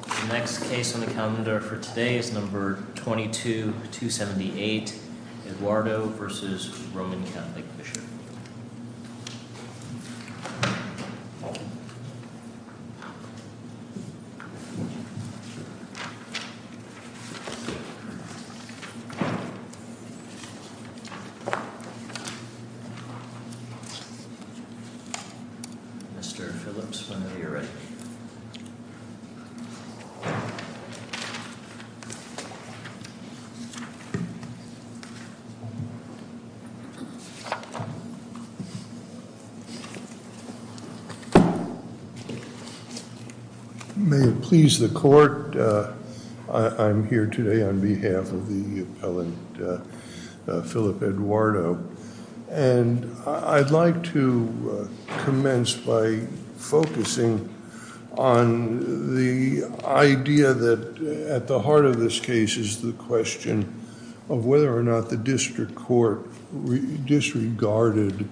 The next case on the calendar for today is number 22-278, Eduardo v. The Roman Catholic Bishop. Mr. Phillips, whenever you're ready. May it please the court, I'm here today on behalf of the appellant Philip Eduardo. And I'd like to commence by focusing on the idea that at the heart of this case is the question of whether or not the district court disregarded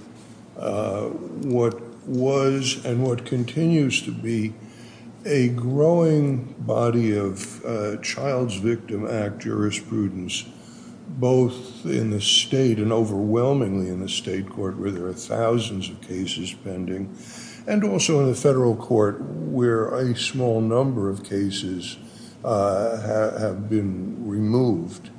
what was and what continues to be a growing body of child's victim act jurisprudence, both in the state and overwhelmingly in the state court where there are thousands of cases pending, and also in the federal court where a small number of cases have been removed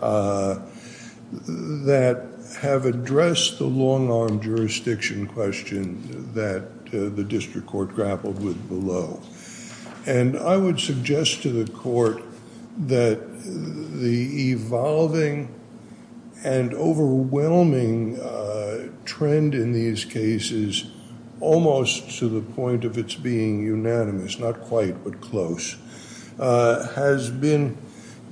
that have addressed the long arm jurisdiction question that the district court grappled with below. And I would suggest to the court that the evolving and overwhelming trend in these cases, almost to the point of its being unanimous, not quite but close, has been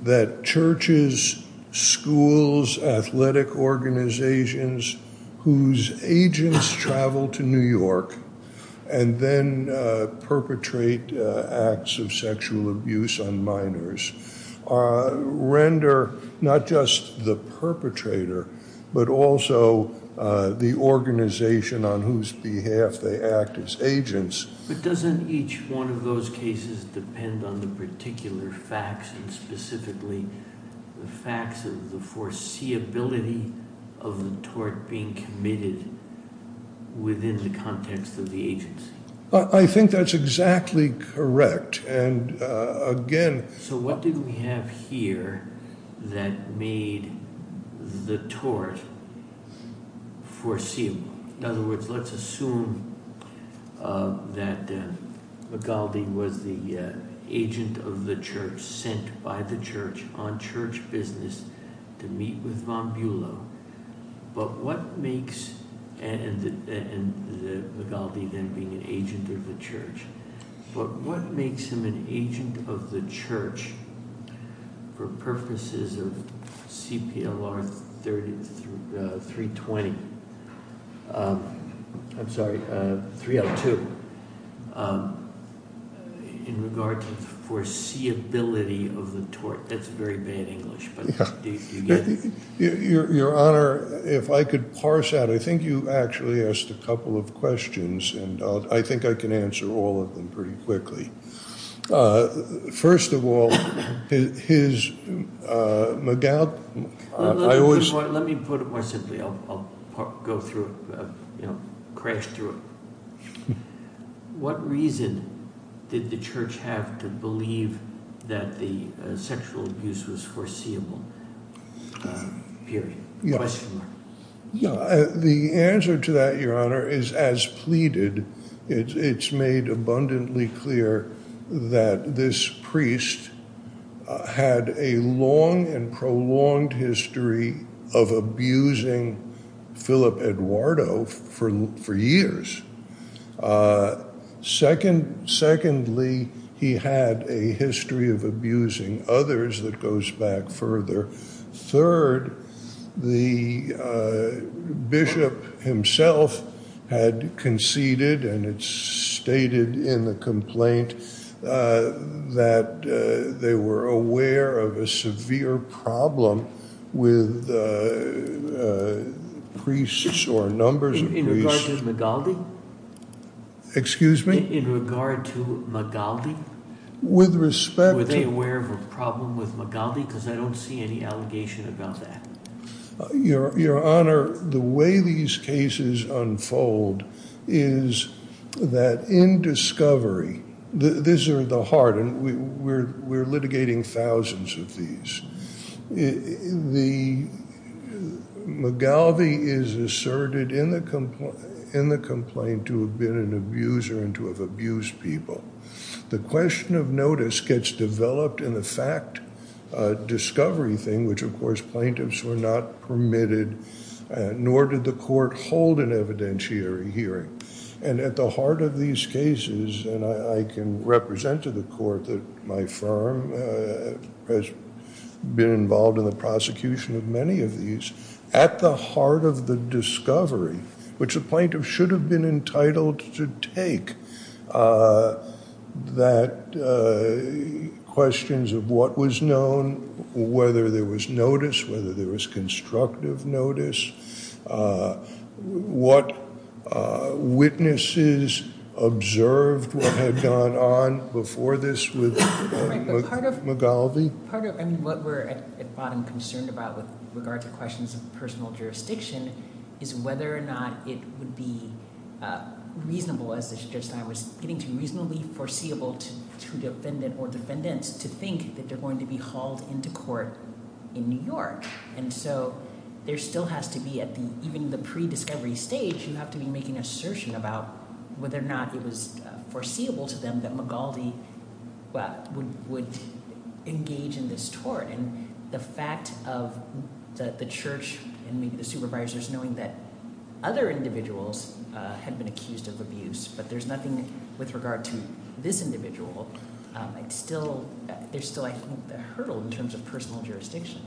that churches, schools, athletic organizations whose agents travel to New York and then perpetrate acts of sexual abuse on minors, render not just the perpetrator but also the organization on whose behalf they act as agents. But doesn't each one of those cases depend on the particular facts and specifically the facts of the foreseeability of the tort being committed within the context of the agency? I think that's exactly correct. And again... So what did we have here that made the tort foreseeable? In other words, let's assume that Magaldi was the agent of the church, sent by the church on church business to meet with I'm sorry, 302, in regard to the foreseeability of the tort. That's very bad English. Your Honor, if I could parse that, I think you actually asked a couple of questions, and I think I can answer all of them pretty quickly. First of all, Magaldi... Let me put it more simply. I'll go through it. Crash through it. What reason did the church have to believe that the sexual abuse was foreseeable? The answer to that, Your Honor, is as pleaded. It's made abundantly clear that this priest had a long and prolonged history of abusing Philip Eduardo for years. Secondly, he had a history of abusing others that goes back further. Third, the bishop himself had conceded, and it's stated in the complaint, that they were aware of a severe problem with priests or numbers of priests... Excuse me? In regard to Magaldi? With respect to... Were they aware of a problem with Magaldi? Because I don't see any allegation about that. Your Honor, the way these cases unfold is that in discovery... We're litigating thousands of these. Magaldi is asserted in the complaint to have been an abuser and to have abused people. The question of notice gets developed in the fact discovery thing, which, of course, plaintiffs were not permitted, nor did the court hold an evidentiary hearing. And at the heart of these cases, and I can represent to the court that my firm has been involved in the prosecution of many of these, at the heart of the discovery, which a plaintiff should have been entitled to take, that questions of what was known, whether there was notice, whether there was constructive notice, what witnesses observed what had gone on before this with Magaldi. What we're at bottom concerned about with regard to questions of personal jurisdiction is whether or not it would be reasonable, as the judge that I was getting to, reasonably foreseeable to defendants to think that they're going to be hauled into court in New York. And so there still has to be, even in the pre-discovery stage, you have to be making an assertion about whether or not it was foreseeable to them that Magaldi would engage in this tort. And the fact of the church and maybe the supervisors knowing that other individuals had been accused of abuse, but there's nothing with regard to this individual, there's still, I think, a hurdle in terms of personal jurisdiction.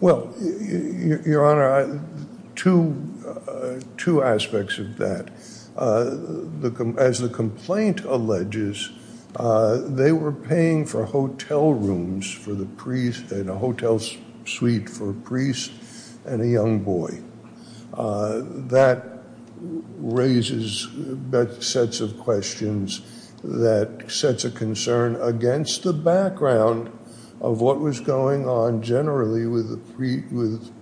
Well, Your Honor, two aspects of that. As the complaint alleges, they were paying for hotel rooms and a hotel suite for a priest and a young boy. That raises sets of questions that sets a concern against the background of what was going on generally with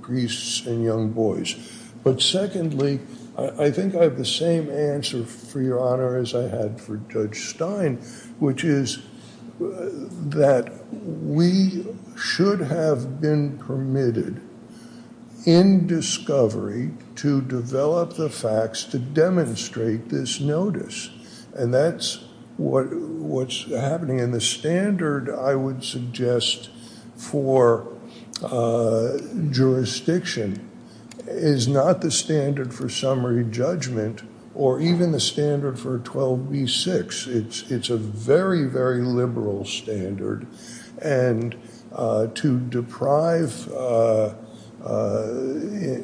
priests and young boys. But secondly, I think I have the same answer for Your Honor as I had for Judge Stein, which is that we should have been permitted in discovery to develop the facts to demonstrate this notice. And that's what's happening. And the standard, I would suggest, for jurisdiction is not the standard for summary judgment or even the standard for 12b-6. It's a very, very liberal standard. And to deprive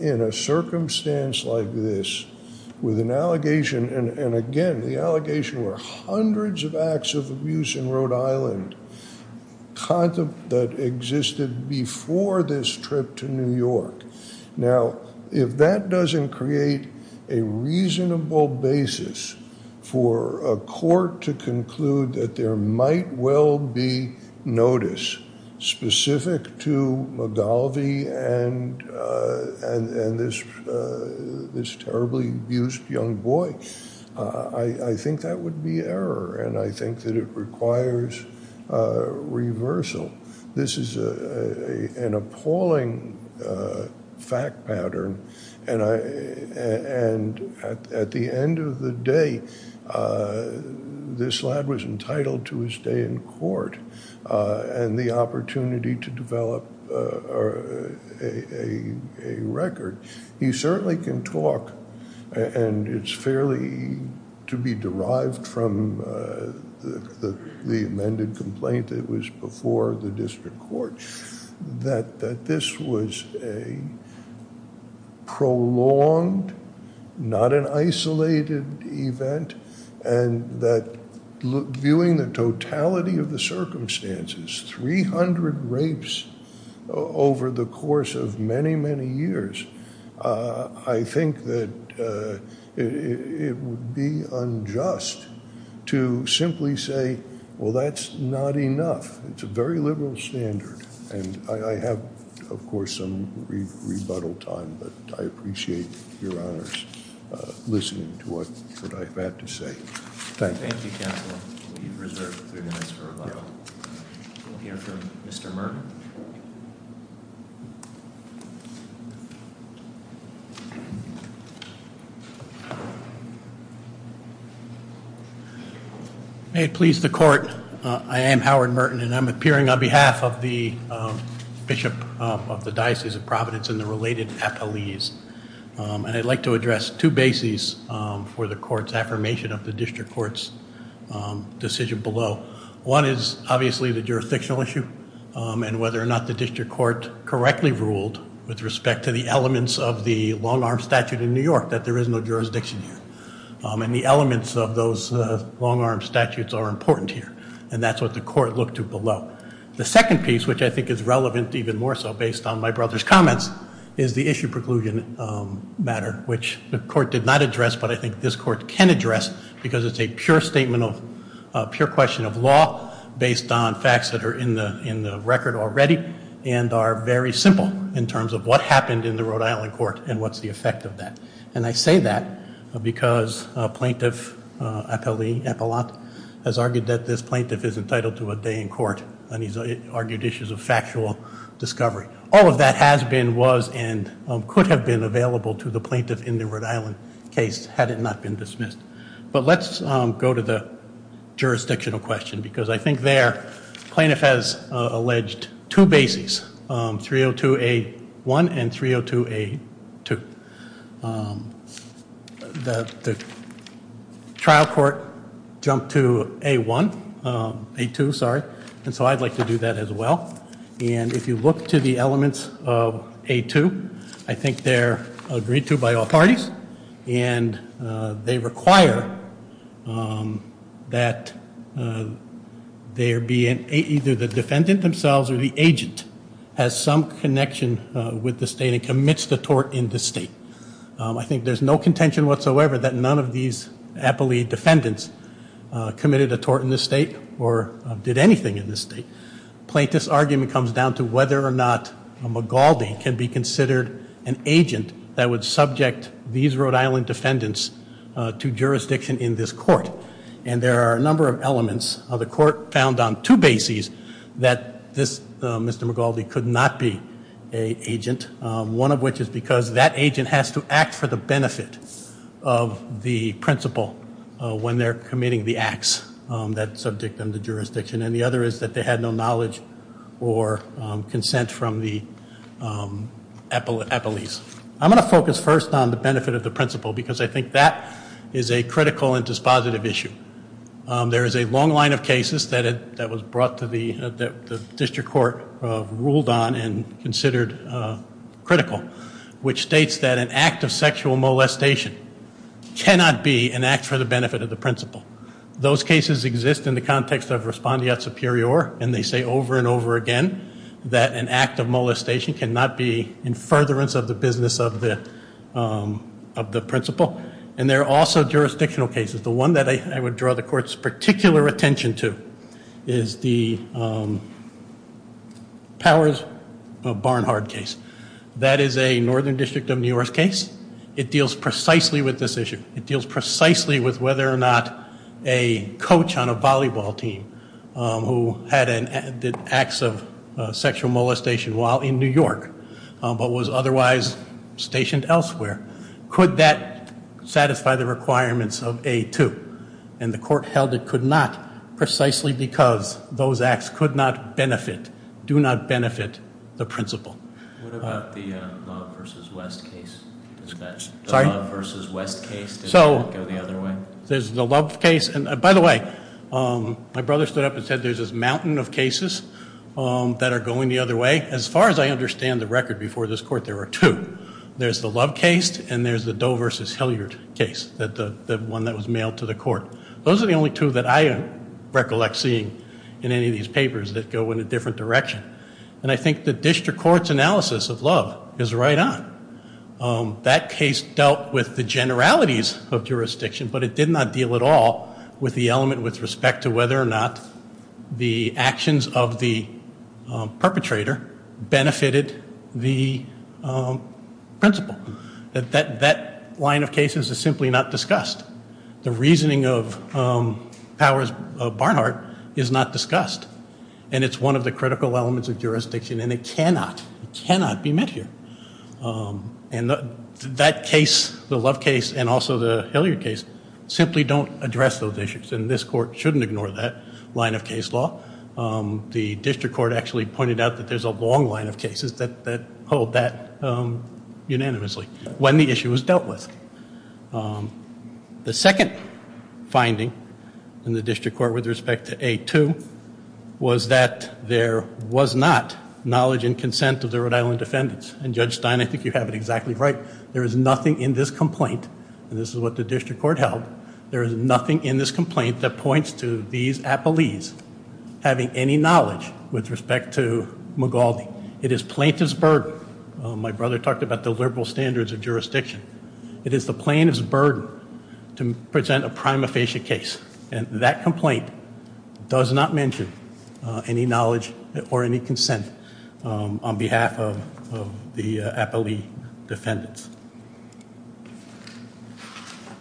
in a circumstance like this with an allegation, and again, the allegation were hundreds of acts of abuse in Rhode Island that existed before this trip to New York. Now, if that doesn't create a reasonable basis for a court to conclude that there might well be notice specific to McGalvey and this terribly abused young boy, I think that would be error. And I think that it requires reversal. This is an appalling fact pattern. And at the end of the day, this lad was entitled to his day in court and the opportunity to develop a record. He certainly can talk, and it's fairly to be derived from the amended complaint that was before the district court, that this was a prolonged, not an isolated event, and that viewing the totality of the circumstances, 300 rapes over the course of many, many years, I think that it would be unjust to simply say, well, that's not enough. It's a very liberal standard. And I have, of course, some rebuttal time, but I appreciate your honors listening to what I've had to say. Thank you. Thank you, Counselor. We reserve three minutes for rebuttal. We'll hear from Mr. Merton. May it please the court. I am Howard Merton, and I'm appearing on behalf of the Bishop of the Diocese of Providence and the related appellees. And I'd like to address two bases for the court's affirmation of the district court's decision below. One is obviously the jurisdictional issue and whether or not the district court correctly ruled with respect to the elements of the long-arm statute in New York that there is no jurisdiction here. And the elements of those long-arm statutes are important here, and that's what the court looked to below. The second piece, which I think is relevant even more so based on my brother's comments, is the issue preclusion matter, which the court did not address, but I think this court can address because it's a pure statement of pure question of law based on facts that are in the record already and are very simple in terms of what happened in the Rhode Island court and what's the effect of that. And I say that because Plaintiff Appellate has argued that this plaintiff is entitled to a day in court, and he's argued issues of factual discovery. All of that has been, was, and could have been available to the plaintiff in the Rhode Island case had it not been dismissed. But let's go to the jurisdictional question because I think there plaintiff has alleged two bases, 302A1 and 302A2. The trial court jumped to A1, A2, sorry, and so I'd like to do that as well. And if you look to the elements of A2, I think they're agreed to by authorities and they require that there be an, either the defendant themselves or the agent has some connection with the state and commits the tort in the state. I think there's no contention whatsoever that none of these appellee defendants committed a tort in the state or did anything in the state. Plaintiff's argument comes down to whether or not a Magaldi can be considered an agent that would subject these Rhode Island defendants to jurisdiction in this court. And there are a number of elements of the court found on two bases that this Mr. Magaldi could not be an agent. One of which is because that agent has to act for the benefit of the principal when they're committing the acts that subject them to jurisdiction. And the other is that they had no knowledge or consent from the appellees. I'm going to focus first on the benefit of the principal because I think that is a critical and dispositive issue. There is a long line of cases that was brought to the, that the district court ruled on and considered critical. Which states that an act of sexual molestation cannot be an act for the benefit of the principal. Those cases exist in the context of respondeat superior. And they say over and over again that an act of molestation cannot be in furtherance of the business of the principal. And there are also jurisdictional cases. The one that I would draw the court's particular attention to is the Powers of Barnhardt case. That is a northern district of New York case. It deals precisely with this issue. It deals precisely with whether or not a coach on a volleyball team who had an acts of sexual molestation while in New York but was otherwise stationed elsewhere. Could that satisfy the requirements of A2? And the court held it could not precisely because those acts could not benefit, do not benefit the principal. What about the Love v. West case? Sorry? The Love v. West case, did it go the other way? There's the Love case. And by the way, my brother stood up and said there's this mountain of cases that are going the other way. As far as I understand the record before this court, there were two. There's the Love case and there's the Doe v. Hilliard case, the one that was mailed to the court. Those are the only two that I recollect seeing in any of these papers that go in a different direction. And I think the district court's analysis of Love is right on. That case dealt with the generalities of jurisdiction, but it did not deal at all with the element with respect to whether or not the actions of the perpetrator benefited the principal. That line of cases is simply not discussed. The reasoning of Barnhart is not discussed. And it's one of the critical elements of jurisdiction, and it cannot, cannot be met here. And that case, the Love case and also the Hilliard case, simply don't address those issues, and this court shouldn't ignore that line of case law. The district court actually pointed out that there's a long line of cases that hold that unanimously when the issue was dealt with. The second finding in the district court with respect to A2 was that there was not knowledge and consent of the Rhode Island defendants. And Judge Stein, I think you have it exactly right. There is nothing in this complaint, and this is what the district court held, there is nothing in this complaint that points to these appellees having any knowledge with respect to Magaldi. It is plaintiff's burden. My brother talked about the liberal standards of jurisdiction. It is the plaintiff's burden to present a prima facie case, and that complaint does not mention any knowledge or any consent on behalf of the appellee defendants.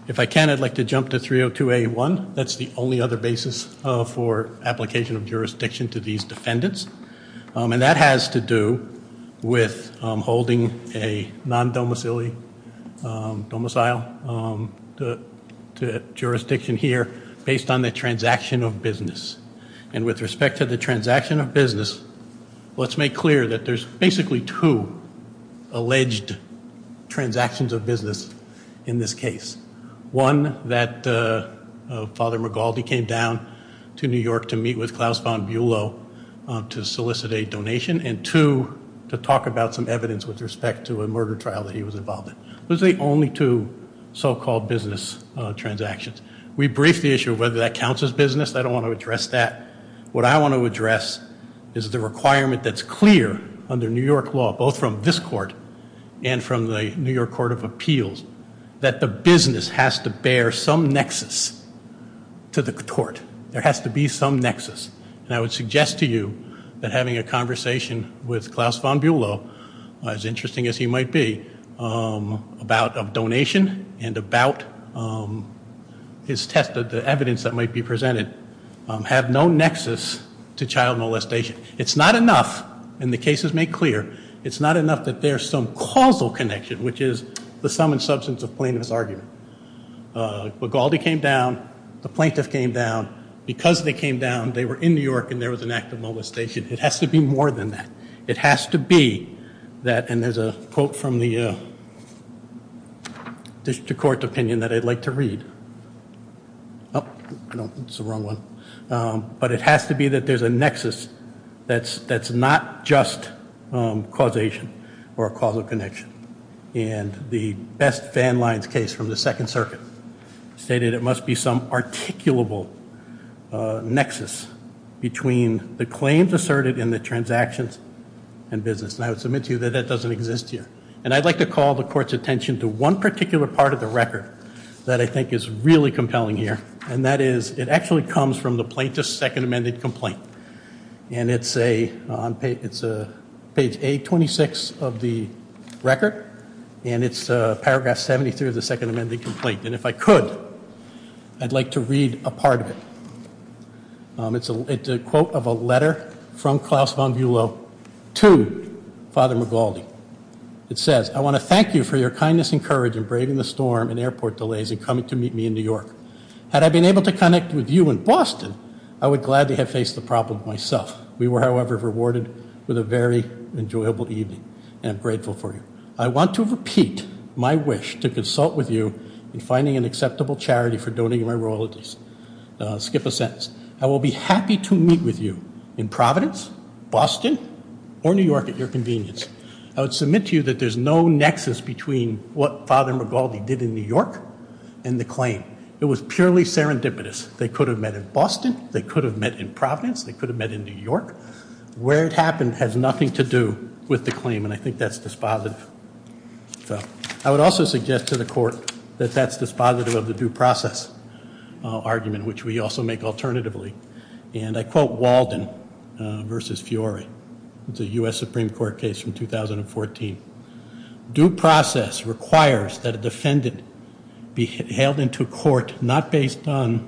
If I can, I'd like to jump to 302A1. That's the only other basis for application of jurisdiction to these defendants, and that has to do with holding a non-domicile jurisdiction here based on the transaction of business. And with respect to the transaction of business, let's make clear that there's basically two alleged transactions of business in this case. One, that Father Magaldi came down to New York to meet with Klaus von Bulow to solicit a donation, and two, to talk about some evidence with respect to a murder trial that he was involved in. Those are the only two so-called business transactions. We briefed the issue of whether that counts as business. I don't want to address that. What I want to address is the requirement that's clear under New York law, both from this court and from the New York Court of Appeals, that the business has to bear some nexus to the court. There has to be some nexus. And I would suggest to you that having a conversation with Klaus von Bulow, as interesting as he might be, about a donation and about his test of the evidence that might be presented, have no nexus to child molestation. It's not enough, and the cases make clear, it's not enough that there's some causal connection, which is the sum and substance of plaintiff's argument. Magaldi came down. The plaintiff came down. Because they came down, they were in New York and there was an act of molestation. It has to be more than that. It has to be that, and there's a quote from the district court opinion that I'd like to read. Oh, no, that's the wrong one. But it has to be that there's a nexus that's not just causation or a causal connection. And the best fan lines case from the Second Circuit stated it must be some articulable nexus between the claims asserted in the transactions and business. And I would submit to you that that doesn't exist here. And I'd like to call the court's attention to one particular part of the record that I think is really compelling here, and that is it actually comes from the plaintiff's second amended complaint. And it's page 826 of the record, and it's paragraph 73 of the second amended complaint. And if I could, I'd like to read a part of it. It's a quote of a letter from Klaus von Bülow to Father Magaldi. It says, I want to thank you for your kindness and courage in braving the storm and airport delays and coming to meet me in New York. Had I been able to connect with you in Boston, I would gladly have faced the problem myself. We were, however, rewarded with a very enjoyable evening, and I'm grateful for you. I want to repeat my wish to consult with you in finding an acceptable charity for donating my royalties. Skip a sentence. I will be happy to meet with you in Providence, Boston, or New York at your convenience. I would submit to you that there's no nexus between what Father Magaldi did in New York and the claim. It was purely serendipitous. They could have met in Boston. They could have met in Providence. They could have met in New York. Where it happened has nothing to do with the claim, and I think that's dispositive. So I would also suggest to the court that that's dispositive of the due process argument, which we also make alternatively. And I quote Walden v. Fiore. It's a U.S. Supreme Court case from 2014. Due process requires that a defendant be held into court not based on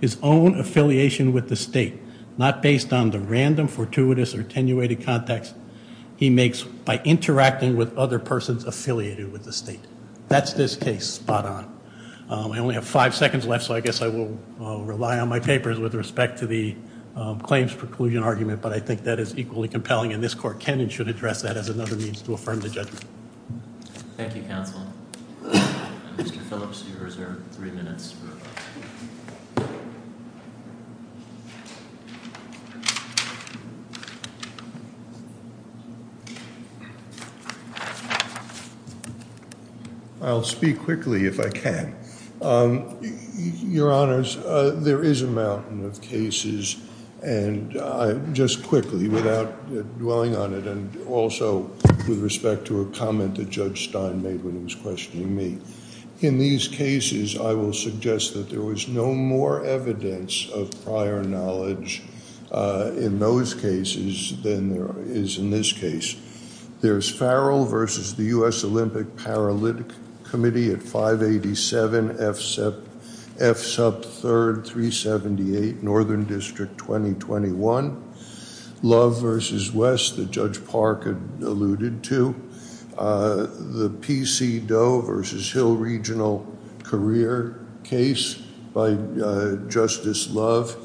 his own affiliation with the state, not based on the random, fortuitous, or attenuated contacts he makes by interacting with other persons affiliated with the state. That's this case. Spot on. I only have five seconds left, so I guess I will rely on my papers with respect to the claims preclusion argument, but I think that is equally compelling, and this court can and should address that as another means to affirm the judgment. Thank you, counsel. Mr. Phillips, you're reserved three minutes. I'll speak quickly if I can. Your Honors, there is a mountain of cases, and just quickly, without dwelling on it, and also with respect to a comment that Judge Stein made when he was questioning me. In these cases, I will suggest that the claimant should be held into court not based on his affiliation with the state, and I will suggest that there was no more evidence of prior knowledge in those cases than there is in this case. There's Farrell v. the U.S. Olympic Paralympic Committee at 587 F. Sub. 3rd, 378 Northern District, 2021. Love v. West that Judge Park had alluded to. The P.C. Doe v. Hill Regional Career case by Justice Love,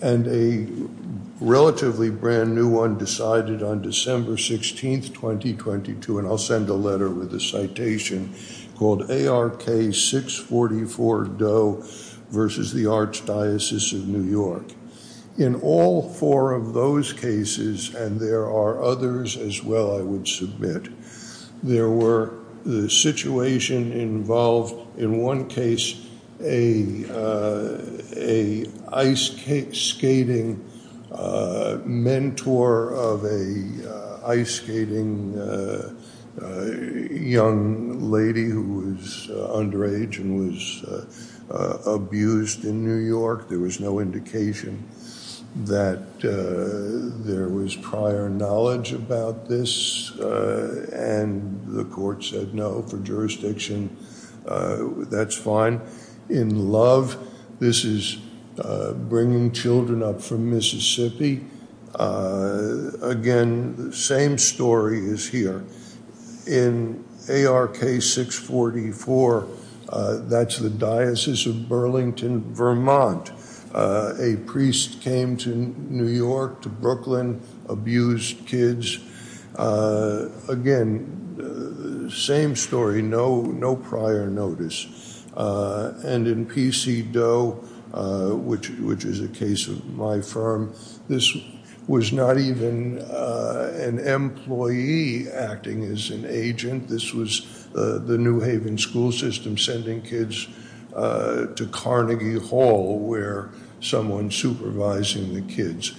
and a relatively brand new one decided on December 16th, 2022, and I'll send a letter with a citation called A.R.K. 644 Doe v. The Archdiocese of New York. In all four of those cases, and there are others as well, I would submit, there were the situation involved in one case a ice skating mentor of a ice skating young lady who was underage and was abused in New York. There was no indication that there was prior knowledge about this, and the court said no for jurisdiction. That's fine. In Love, this is bringing children up from Mississippi. Again, the same story is here. In A.R.K. 644, that's the Diocese of Burlington, Vermont. A priest came to New York, to Brooklyn, abused kids. Again, same story, no prior notice. In P.C. Doe, which is a case of my firm, this was not even an employee acting as an agent. This was the New Haven school system sending kids to Carnegie Hall, where someone supervising the kids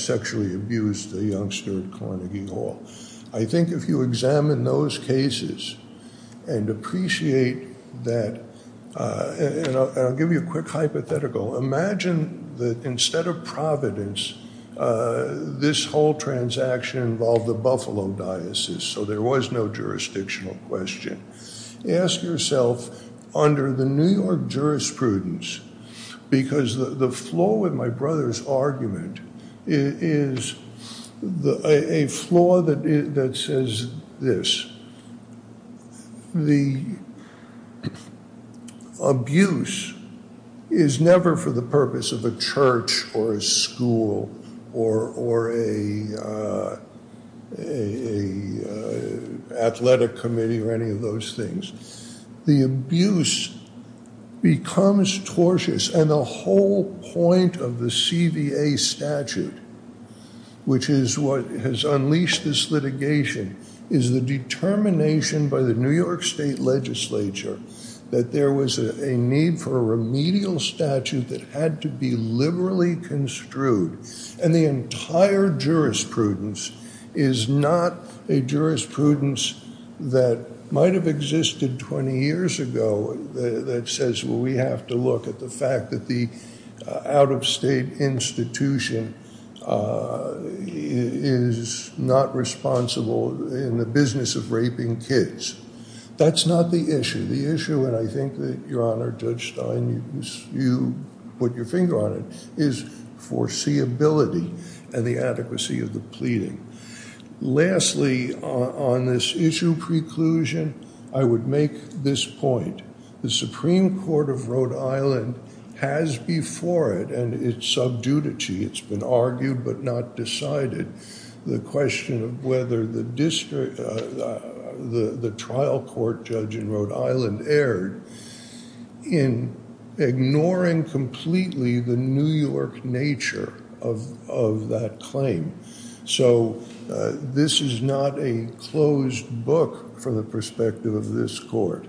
sexually abused a youngster at Carnegie Hall. I think if you examine those cases and appreciate that, and I'll give you a quick hypothetical. Imagine that instead of Providence, this whole transaction involved the Buffalo Diocese, so there was no jurisdictional question. Ask yourself, under the New York jurisprudence, because the flaw with my brother's argument is a flaw that says this. The abuse is never for the purpose of a church or a school or an athletic committee or any of those things. The abuse becomes tortious, and the whole point of the CVA statute, which is what has unleashed this litigation, is the determination by the New York state legislature that there was a need for a remedial statute that had to be liberally construed. And the entire jurisprudence is not a jurisprudence that might have existed 20 years ago that says, well, we have to look at the fact that the out-of-state institution is not responsible in the business of raping kids. That's not the issue. The issue, and I think that, Your Honor, Judge Stein, you put your finger on it, is foreseeability and the adequacy of the pleading. Lastly, on this issue preclusion, I would make this point. The Supreme Court of Rhode Island has before it, and it's sub judici, it's been argued but not decided, the question of whether the trial court judge in Rhode Island erred in ignoring completely the New York nature of that claim. So, this is not a closed book from the perspective of this court.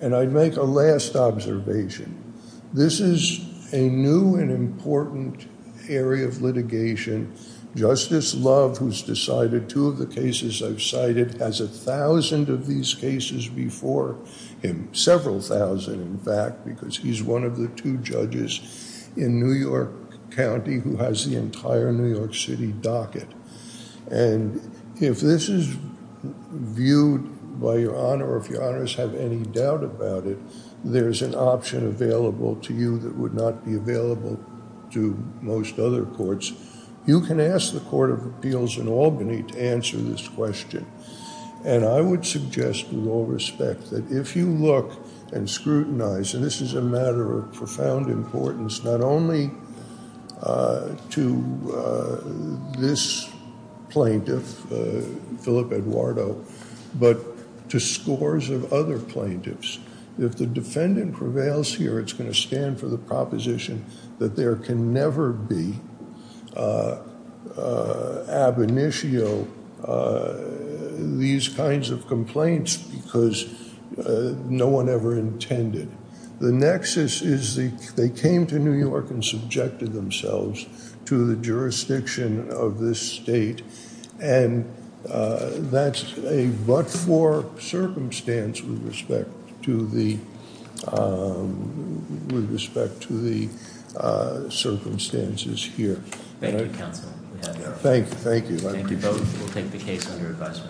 And I'd make a last observation. This is a new and important area of litigation. Justice Love, who's decided two of the cases I've cited, has a thousand of these cases before him, And if this is viewed by Your Honor, or if Your Honors have any doubt about it, there's an option available to you that would not be available to most other courts. You can ask the Court of Appeals in Albany to answer this question. And I would suggest, with all respect, that if you look and scrutinize, and this is a matter of profound importance, not only to this plaintiff, Philip Eduardo, but to scores of other plaintiffs, if the defendant prevails here, it's going to stand for the proposition that there can never be ab initio, these kinds of complaints, because no one ever intended. The nexus is they came to New York and subjected themselves to the jurisdiction of this state, and that's a but-for circumstance with respect to the circumstances here. Thank you, counsel. Thank you. Thank you both. We'll take the case under advisement.